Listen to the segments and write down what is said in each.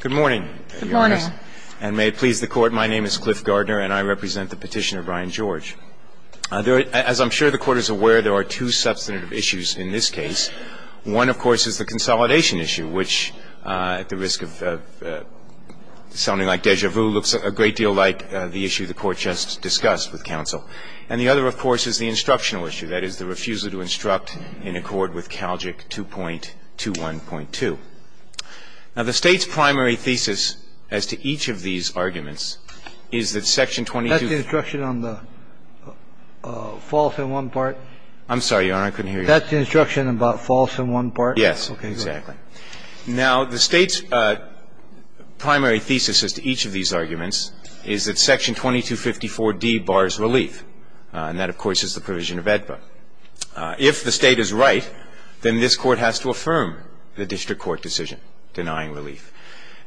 Good morning, Your Honors, and may it please the Court, my name is Cliff Gardner and I represent the petitioner Brian George. As I'm sure the Court is aware, there are two substantive issues in this case. One, of course, is the consolidation issue, which, at the risk of sounding like déjà vu, looks a great deal like the issue the Court just discussed with counsel. And the other, of course, is the instructional issue, that is, the refusal to instruct in accord with CALJIC 2.21.2. Now, the State's primary thesis as to each of these arguments is that Section 22- That's the instruction on the false in one part? I'm sorry, Your Honor, I couldn't hear you. That's the instruction about false in one part? Yes, exactly. Okay, go ahead. Now, the State's primary thesis as to each of these arguments is that Section 2254d bars relief, and that, of course, is the provision of AEDPA. If the State is right, then this Court has to affirm the district court decision denying relief.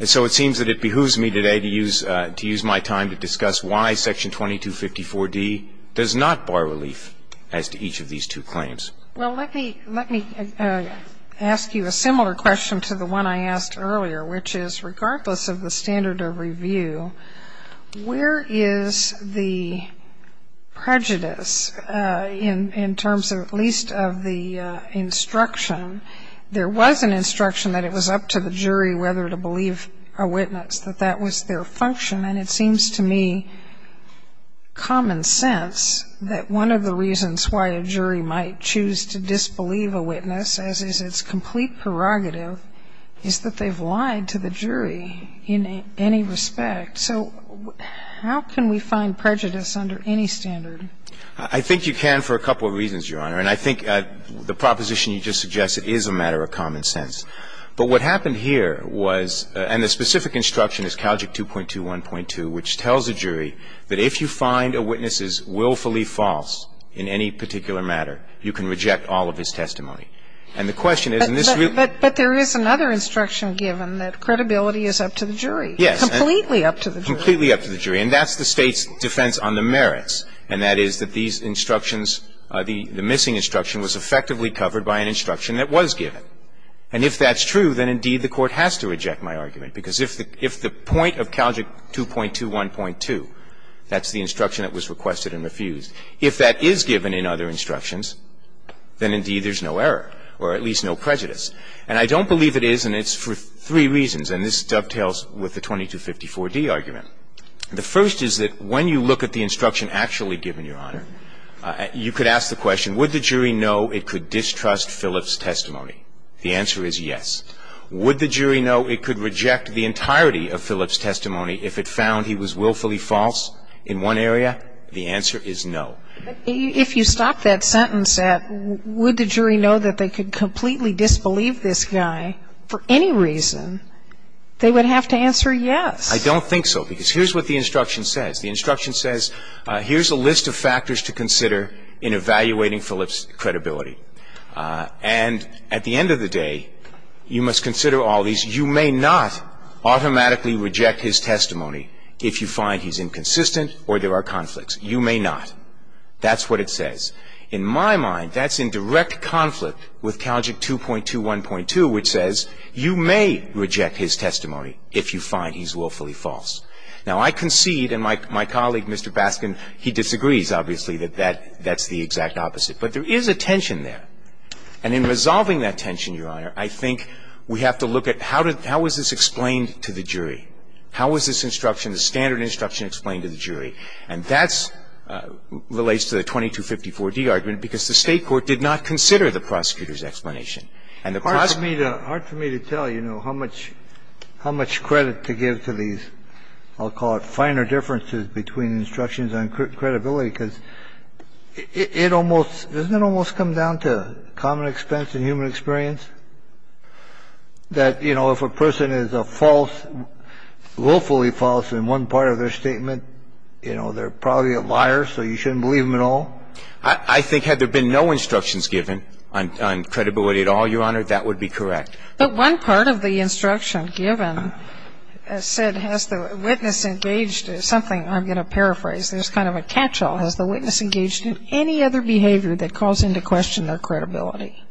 And so it seems that it behooves me today to use my time to discuss why Section 2254d does not bar relief as to each of these two claims. Well, let me ask you a similar question to the one I asked earlier, which is, regardless of the standard of review, where is the prejudice in terms of at least of the instruction? There was an instruction that it was up to the jury whether to believe a witness, that that was their function. And it seems to me common sense that one of the reasons why a jury might choose to disbelieve a witness, as is its complete prerogative, is that they've lied to the jury in any respect. So how can we find prejudice under any standard? I think you can for a couple of reasons, Your Honor, and I think the proposition you just suggested is a matter of common sense. But what happened here was, and the specific instruction is Calgic 2.2.1.2, which tells a jury that if you find a witness is willfully false in any particular matter, you can reject all of his testimony. And the question is in this realm But there is another instruction given that credibility is up to the jury. Yes. Completely up to the jury. Completely up to the jury. And that's the State's defense on the merits, and that is that these instructions are the missing instruction was effectively covered by an instruction that was given. And if that's true, then indeed the Court has to reject my argument, because if the point of Calgic 2.2.1.2, that's the instruction that was requested and refused. If that is given in other instructions, then indeed there's no error, or at least no prejudice. And I don't believe it is, and it's for three reasons, and this dovetails with the 2254d argument. The first is that when you look at the instruction actually given, Your Honor, you could ask the question, would the jury know it could distrust Phillips' testimony? The answer is yes. Would the jury know it could reject the entirety of Phillips' testimony if it found he was willfully false in one area? The answer is no. But if you stop that sentence at would the jury know that they could completely disbelieve this guy for any reason, they would have to answer yes. I don't think so, because here's what the instruction says. The instruction says here's a list of factors to consider in evaluating Phillips' credibility. And at the end of the day, you must consider all these. You may not automatically reject his testimony if you find he's inconsistent or there are conflicts. You may not. That's what it says. In my mind, that's in direct conflict with Calgic 2.2.1.2, which says you may reject his testimony if you find he's willfully false. Now, I concede, and my colleague, Mr. Baskin, he disagrees, obviously, that that's the exact opposite. But there is a tension there. And in resolving that tension, Your Honor, I think we have to look at how was this explained to the jury? How was this instruction, the standard instruction, explained to the jury? And that relates to the 2254d argument, because the State court did not consider the prosecutor's explanation. And the prosecutor's explanation was not considered. Kennedy. Hard for me to tell, you know, how much credit to give to these, I'll call it, finer differences between instructions on credibility, because it almost, doesn't it almost come down to common expense and human experience? That, you know, if a person is a false, willfully false in one part of their statement, you know, they're probably a liar, so you shouldn't believe them at all? I think had there been no instructions given on credibility at all, Your Honor, that would be correct. But one part of the instruction given said has the witness engaged in something, I'm going to paraphrase, there's kind of a catch-all. Has the witness engaged in any other behavior that calls into question their credibility?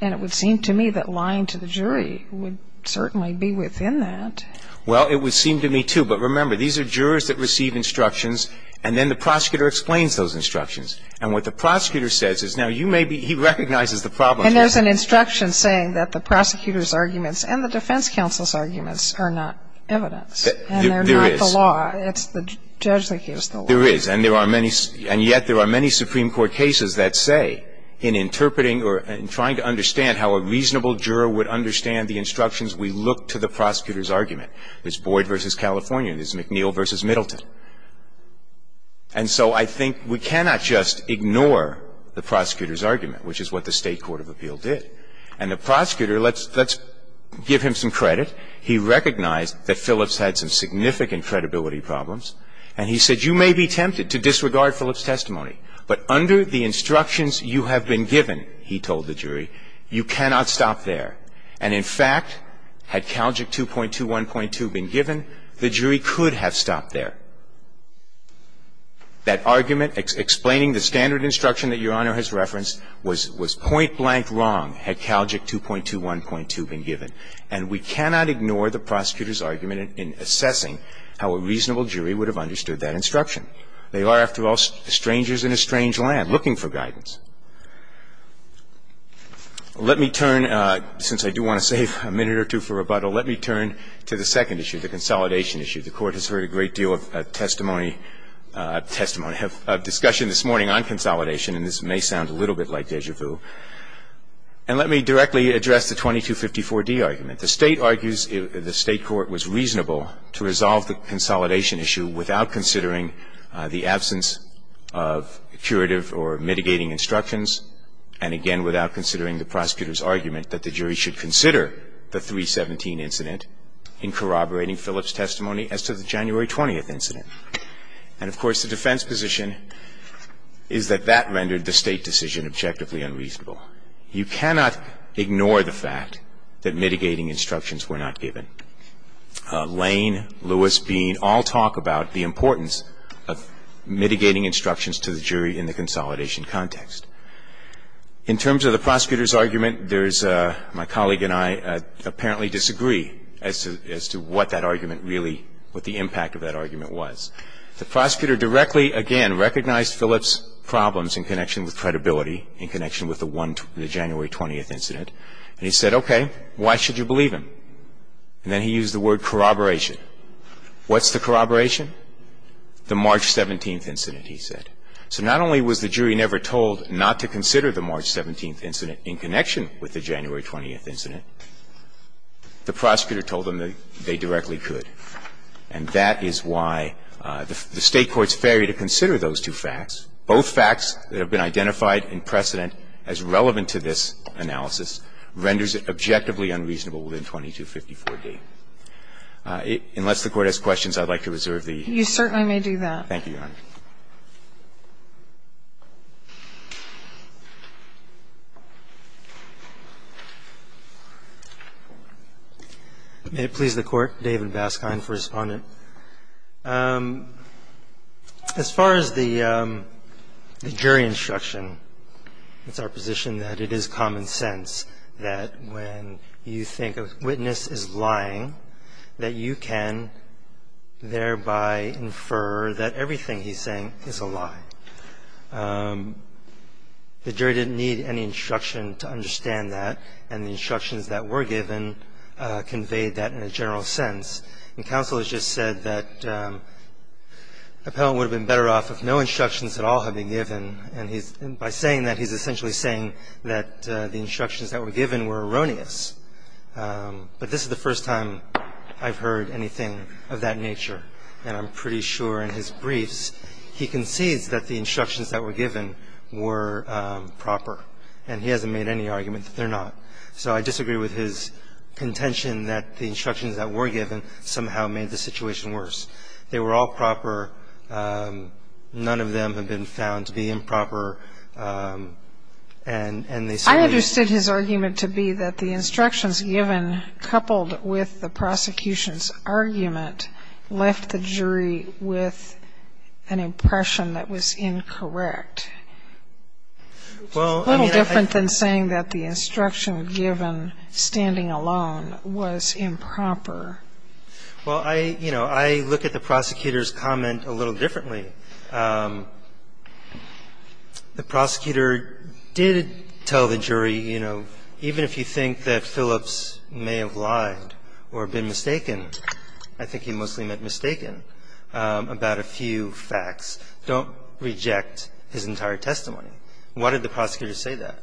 And it would seem to me that lying to the jury would certainly be within that. Well, it would seem to me, too. But remember, these are jurors that receive instructions, and then the prosecutor explains those instructions. And what the prosecutor says is, now, you may be, he recognizes the problem. And there's an instruction saying that the prosecutor's arguments and the defense counsel's arguments are not evidence. There is. And they're not the law. It's the judge that gives the law. There is. And there are many, and yet there are many Supreme Court cases that say in interpreting or in trying to understand how a reasonable juror would understand the instructions, we look to the prosecutor's argument. There's Boyd v. California, there's McNeil v. Middleton. And so I think we cannot just ignore the prosecutor's argument, which is what the State Court of Appeal did. And the prosecutor, let's give him some credit. He recognized that Phillips had some significant credibility problems. And he said, you may be tempted to disregard Phillips' testimony, but under the instructions you have been given, he told the jury, you cannot stop there. And in fact, had Calgic 2.21.2 been given, the jury could have stopped there. That argument explaining the standard instruction that Your Honor has referenced was point-blank wrong had Calgic 2.21.2 been given. And we cannot ignore the prosecutor's argument in assessing how a reasonable jury would have understood that instruction. They are, after all, strangers in a strange land looking for guidance. Let me turn, since I do want to save a minute or two for rebuttal, let me turn to the second issue, the consolidation issue. The Court has heard a great deal of testimony, testimony, discussion this morning on consolidation, and this may sound a little bit like déjà vu. And let me directly address the 2254d argument. The State argues the State court was reasonable to resolve the consolidation issue without considering the absence of curative or mitigating instructions and, again, without considering the prosecutor's argument that the jury should consider the 317 incident in corroborating Phillips' testimony as to the January 20th incident. And, of course, the defense position is that that rendered the State decision objectively unreasonable. You cannot ignore the fact that mitigating instructions were not given. Lane, Lewis, Bean all talk about the importance of mitigating instructions to the jury in the consolidation context. In terms of the prosecutor's argument, there's my colleague and I apparently disagree as to what that argument really, what the impact of that argument was. The prosecutor directly, again, recognized Phillips' problems in connection with credibility, in connection with the January 20th incident. And he said, okay, why should you believe him? And then he used the word corroboration. What's the corroboration? The March 17th incident, he said. So not only was the jury never told not to consider the March 17th incident in connection with the January 20th incident, the prosecutor told them that they directly could. And that is why the State court's failure to consider those two facts, both facts that have been identified in precedent as relevant to this analysis, renders it objectively unreasonable within 2254d. Unless the Court has questions, I'd like to reserve the hearing. You certainly may do that. Thank you, Your Honor. May it please the Court. David Baskind for Respondent. As far as the jury instruction, it's our position that it is common sense that when you think a witness is lying, that you can thereby infer that everything he's saying is a lie. The jury didn't need any instruction to understand that. And the instructions that were given conveyed that in a general sense. And counsel has just said that the appellant would have been better off if no instructions at all had been given. And by saying that, he's essentially saying that the instructions that were given were erroneous. But this is the first time I've heard anything of that nature. And I'm pretty sure in his briefs, he concedes that the instructions that were given were proper. And he hasn't made any argument that they're not. So I disagree with his contention that the instructions that were given somehow made the situation worse. They were all proper. None of them have been found to be improper. And they certainly are. I understood his argument to be that the instructions given, coupled with the prosecution's argument, left the jury with an impression that was incorrect. A little different than saying that the instruction given, standing alone, was improper. Well, I, you know, I look at the prosecutor's comment a little differently. The prosecutor did tell the jury, you know, even if you think that Phillips may have lied or been mistaken, I think he mostly meant mistaken, about a few facts, don't reject his entire testimony. Why did the prosecutor say that?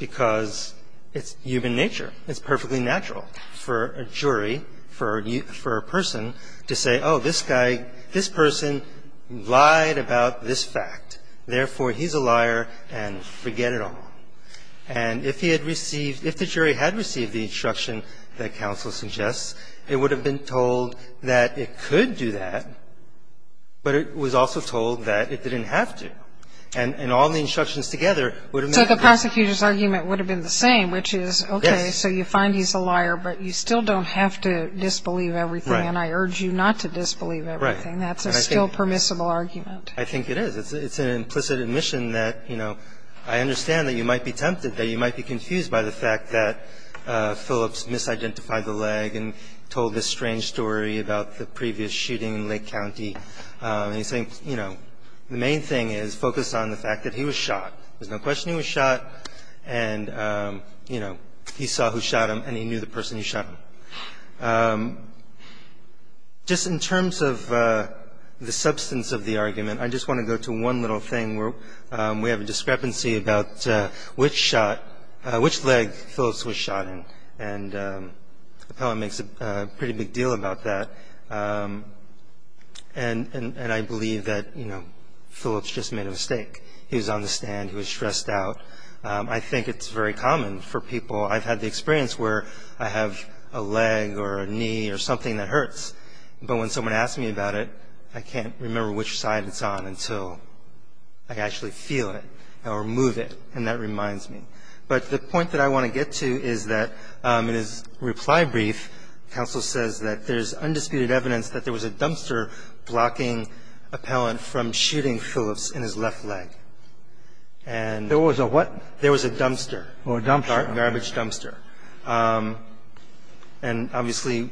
Because it's human nature. It's perfectly natural for a jury, for a person to say, oh, this guy, this person lied about this fact. Therefore, he's a liar, and forget it all. And if he had received, if the jury had received the instruction that counsel suggests, it would have been told that it could do that, but it was also told that it didn't have to. And all the instructions together would have meant that. So the prosecutor's argument would have been the same, which is, okay, so you find he's a liar, but you still don't have to disbelieve everything. Right. And I urge you not to disbelieve everything. Right. That's a still permissible argument. I think it is. It's an implicit admission that, you know, I understand that you might be tempted, that you might be confused by the fact that Phillips misidentified the leg and told this strange story about the previous shooting in Lake County. And he's saying, you know, the main thing is focus on the fact that he was shot. There's no question he was shot, and, you know, he saw who shot him, and he knew the person who shot him. Just in terms of the substance of the argument, I just want to go to one little thing where we have a discrepancy about which shot, which leg Phillips was shot in, and the poem makes a pretty big deal about that. And I believe that, you know, Phillips just made a mistake. He was on the stand. He was stressed out. I think it's very common for people. I've had the experience where I have a leg or a knee or something that hurts, but when someone asks me about it, I can't remember which side it's on until I actually feel it or move it, and that reminds me. But the point that I want to get to is that in his reply brief, counsel says that there's undisputed evidence that there was a dumpster blocking Appellant from shooting Phillips in his left leg. And there was a what? There was a dumpster. Or a dumpster. Garbage dumpster. And obviously,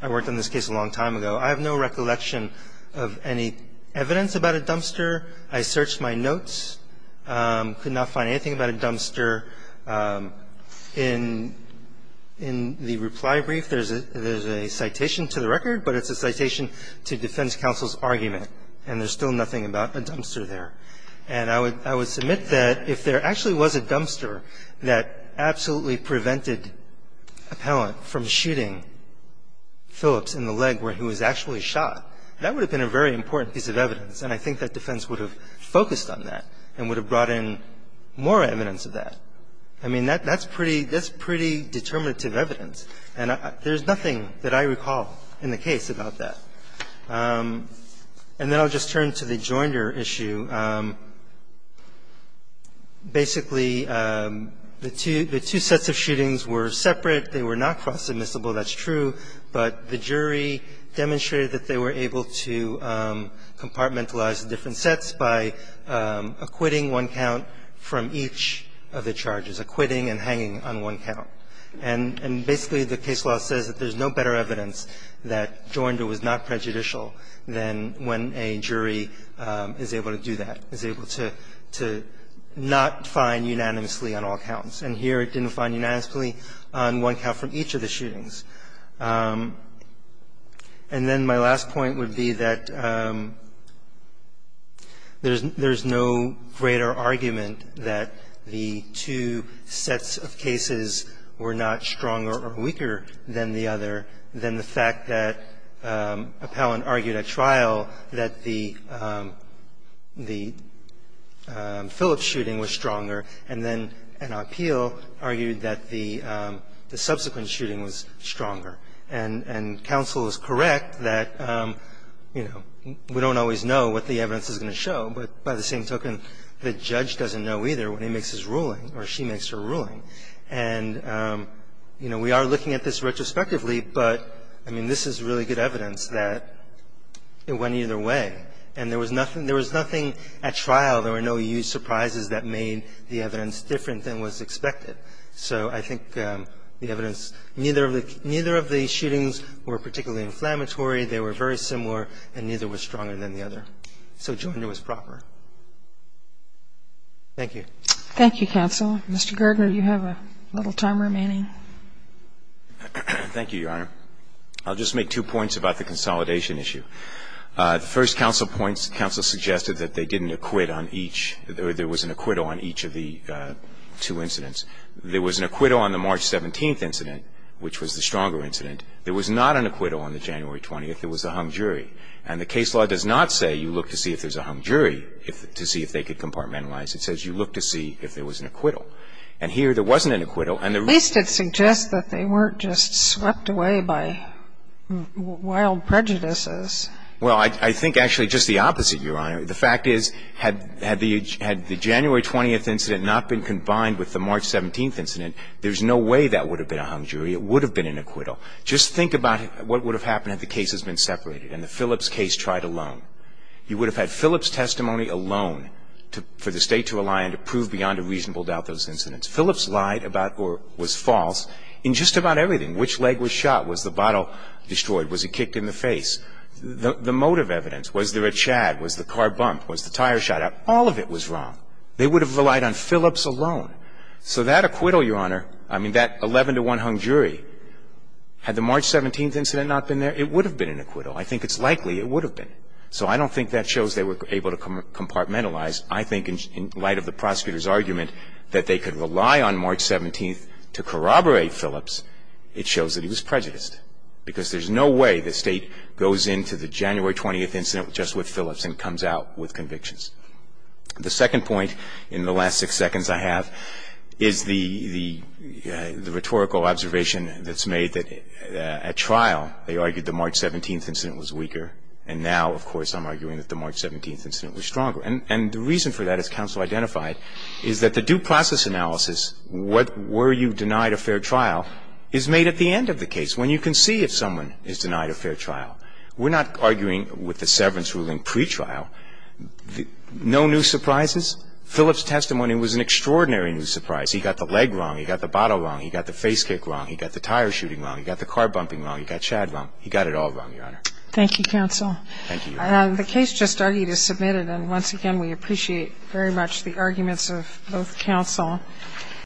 I worked on this case a long time ago. I have no recollection of any evidence about a dumpster. I searched my notes, could not find anything about a dumpster. In the reply brief, there's a citation to the record, but it's a citation to defend counsel's argument, and there's still nothing about a dumpster there. And I would submit that if there actually was a dumpster that absolutely prevented Appellant from shooting Phillips in the leg where he was actually shot, that would have been a very important piece of evidence, and I think that defense would have focused on that and would have brought in more evidence of that. I mean, that's pretty determinative evidence, and there's nothing that I recall in the case about that. And then I'll just turn to the Joinder issue. Basically, the two sets of shootings were separate. They were not cross-admissible. That's true. But the jury demonstrated that they were able to compartmentalize the different sets by acquitting one count from each of the charges, acquitting and hanging on one count. And basically, the case law says that there's no better evidence that Joinder was not prejudicial than when a jury is able to do that, is able to not find unanimously on all counts. And here it didn't find unanimously on one count from each of the shootings. And then my last point would be that there's no greater argument that the two sets of cases were not stronger or weaker than the other than the fact that Appellant argued at trial that the Phillips shooting was stronger and then an appeal argued that the subsequent shooting was stronger. And counsel is correct that, you know, we don't always know what the evidence is going to show, but by the same token, the judge doesn't know either when he makes his ruling or she makes her ruling. And, you know, we are looking at this retrospectively, but, I mean, this is really good evidence that it went either way. And there was nothing at trial, there were no huge surprises that made the evidence different than was expected. So I think the evidence, neither of the shootings were particularly inflammatory, they were very similar, and neither was stronger than the other. So Joinder was proper. Thank you. Thank you, counsel. Mr. Gardner, you have a little time remaining. Thank you, Your Honor. I'll just make two points about the consolidation issue. The first counsel points, counsel suggested that they didn't acquit on each or there was an acquittal on each of the two incidents. There was an acquittal on the March 17th incident, which was the stronger incident. There was not an acquittal on the January 20th. There was a hung jury. And the case law does not say you look to see if there's a hung jury to see if they could compartmentalize. It says you look to see if there was an acquittal. And here there wasn't an acquittal. At least it suggests that they weren't just swept away by wild prejudices. Well, I think actually just the opposite, Your Honor. The fact is, had the January 20th incident not been combined with the March 17th incident, there's no way that would have been a hung jury. It would have been an acquittal. Just think about what would have happened had the cases been separated and the Phillips case tried alone. You would have had Phillips testimony alone for the State to rely on to prove beyond a reasonable doubt those incidents. Phillips lied about or was false in just about everything. Which leg was shot? Was the bottle destroyed? Was he kicked in the face? The motive evidence. Was there a chad? Was the car bumped? Was the tire shot out? All of it was wrong. They would have relied on Phillips alone. So that acquittal, Your Honor, I mean, that 11-to-1 hung jury, had the March 17th incident not been there, it would have been an acquittal. I think it's likely it would have been. So I don't think that shows they were able to compartmentalize. I think in light of the prosecutor's argument that they could rely on March 17th to corroborate Phillips, it shows that he was prejudiced because there's no way the State goes into the January 20th incident just with Phillips and comes out with convictions. The second point in the last six seconds I have is the rhetorical observation that's made that at trial they argued the March 17th incident was weaker and now, of course, I'm arguing that the March 17th incident was stronger. And the reason for that, as counsel identified, is that the due process analysis, were you denied a fair trial, is made at the end of the case when you can see if someone is denied a fair trial. We're not arguing with the severance ruling pretrial. No new surprises. Phillips' testimony was an extraordinary new surprise. He got the leg wrong. He got the bottle wrong. He got the face kick wrong. He got the tire shooting wrong. He got the car bumping wrong. He got Chad wrong. He got it all wrong, Your Honor. Thank you, counsel. Thank you, Your Honor. The case just argued is submitted. And once again, we appreciate very much the arguments of both counsel.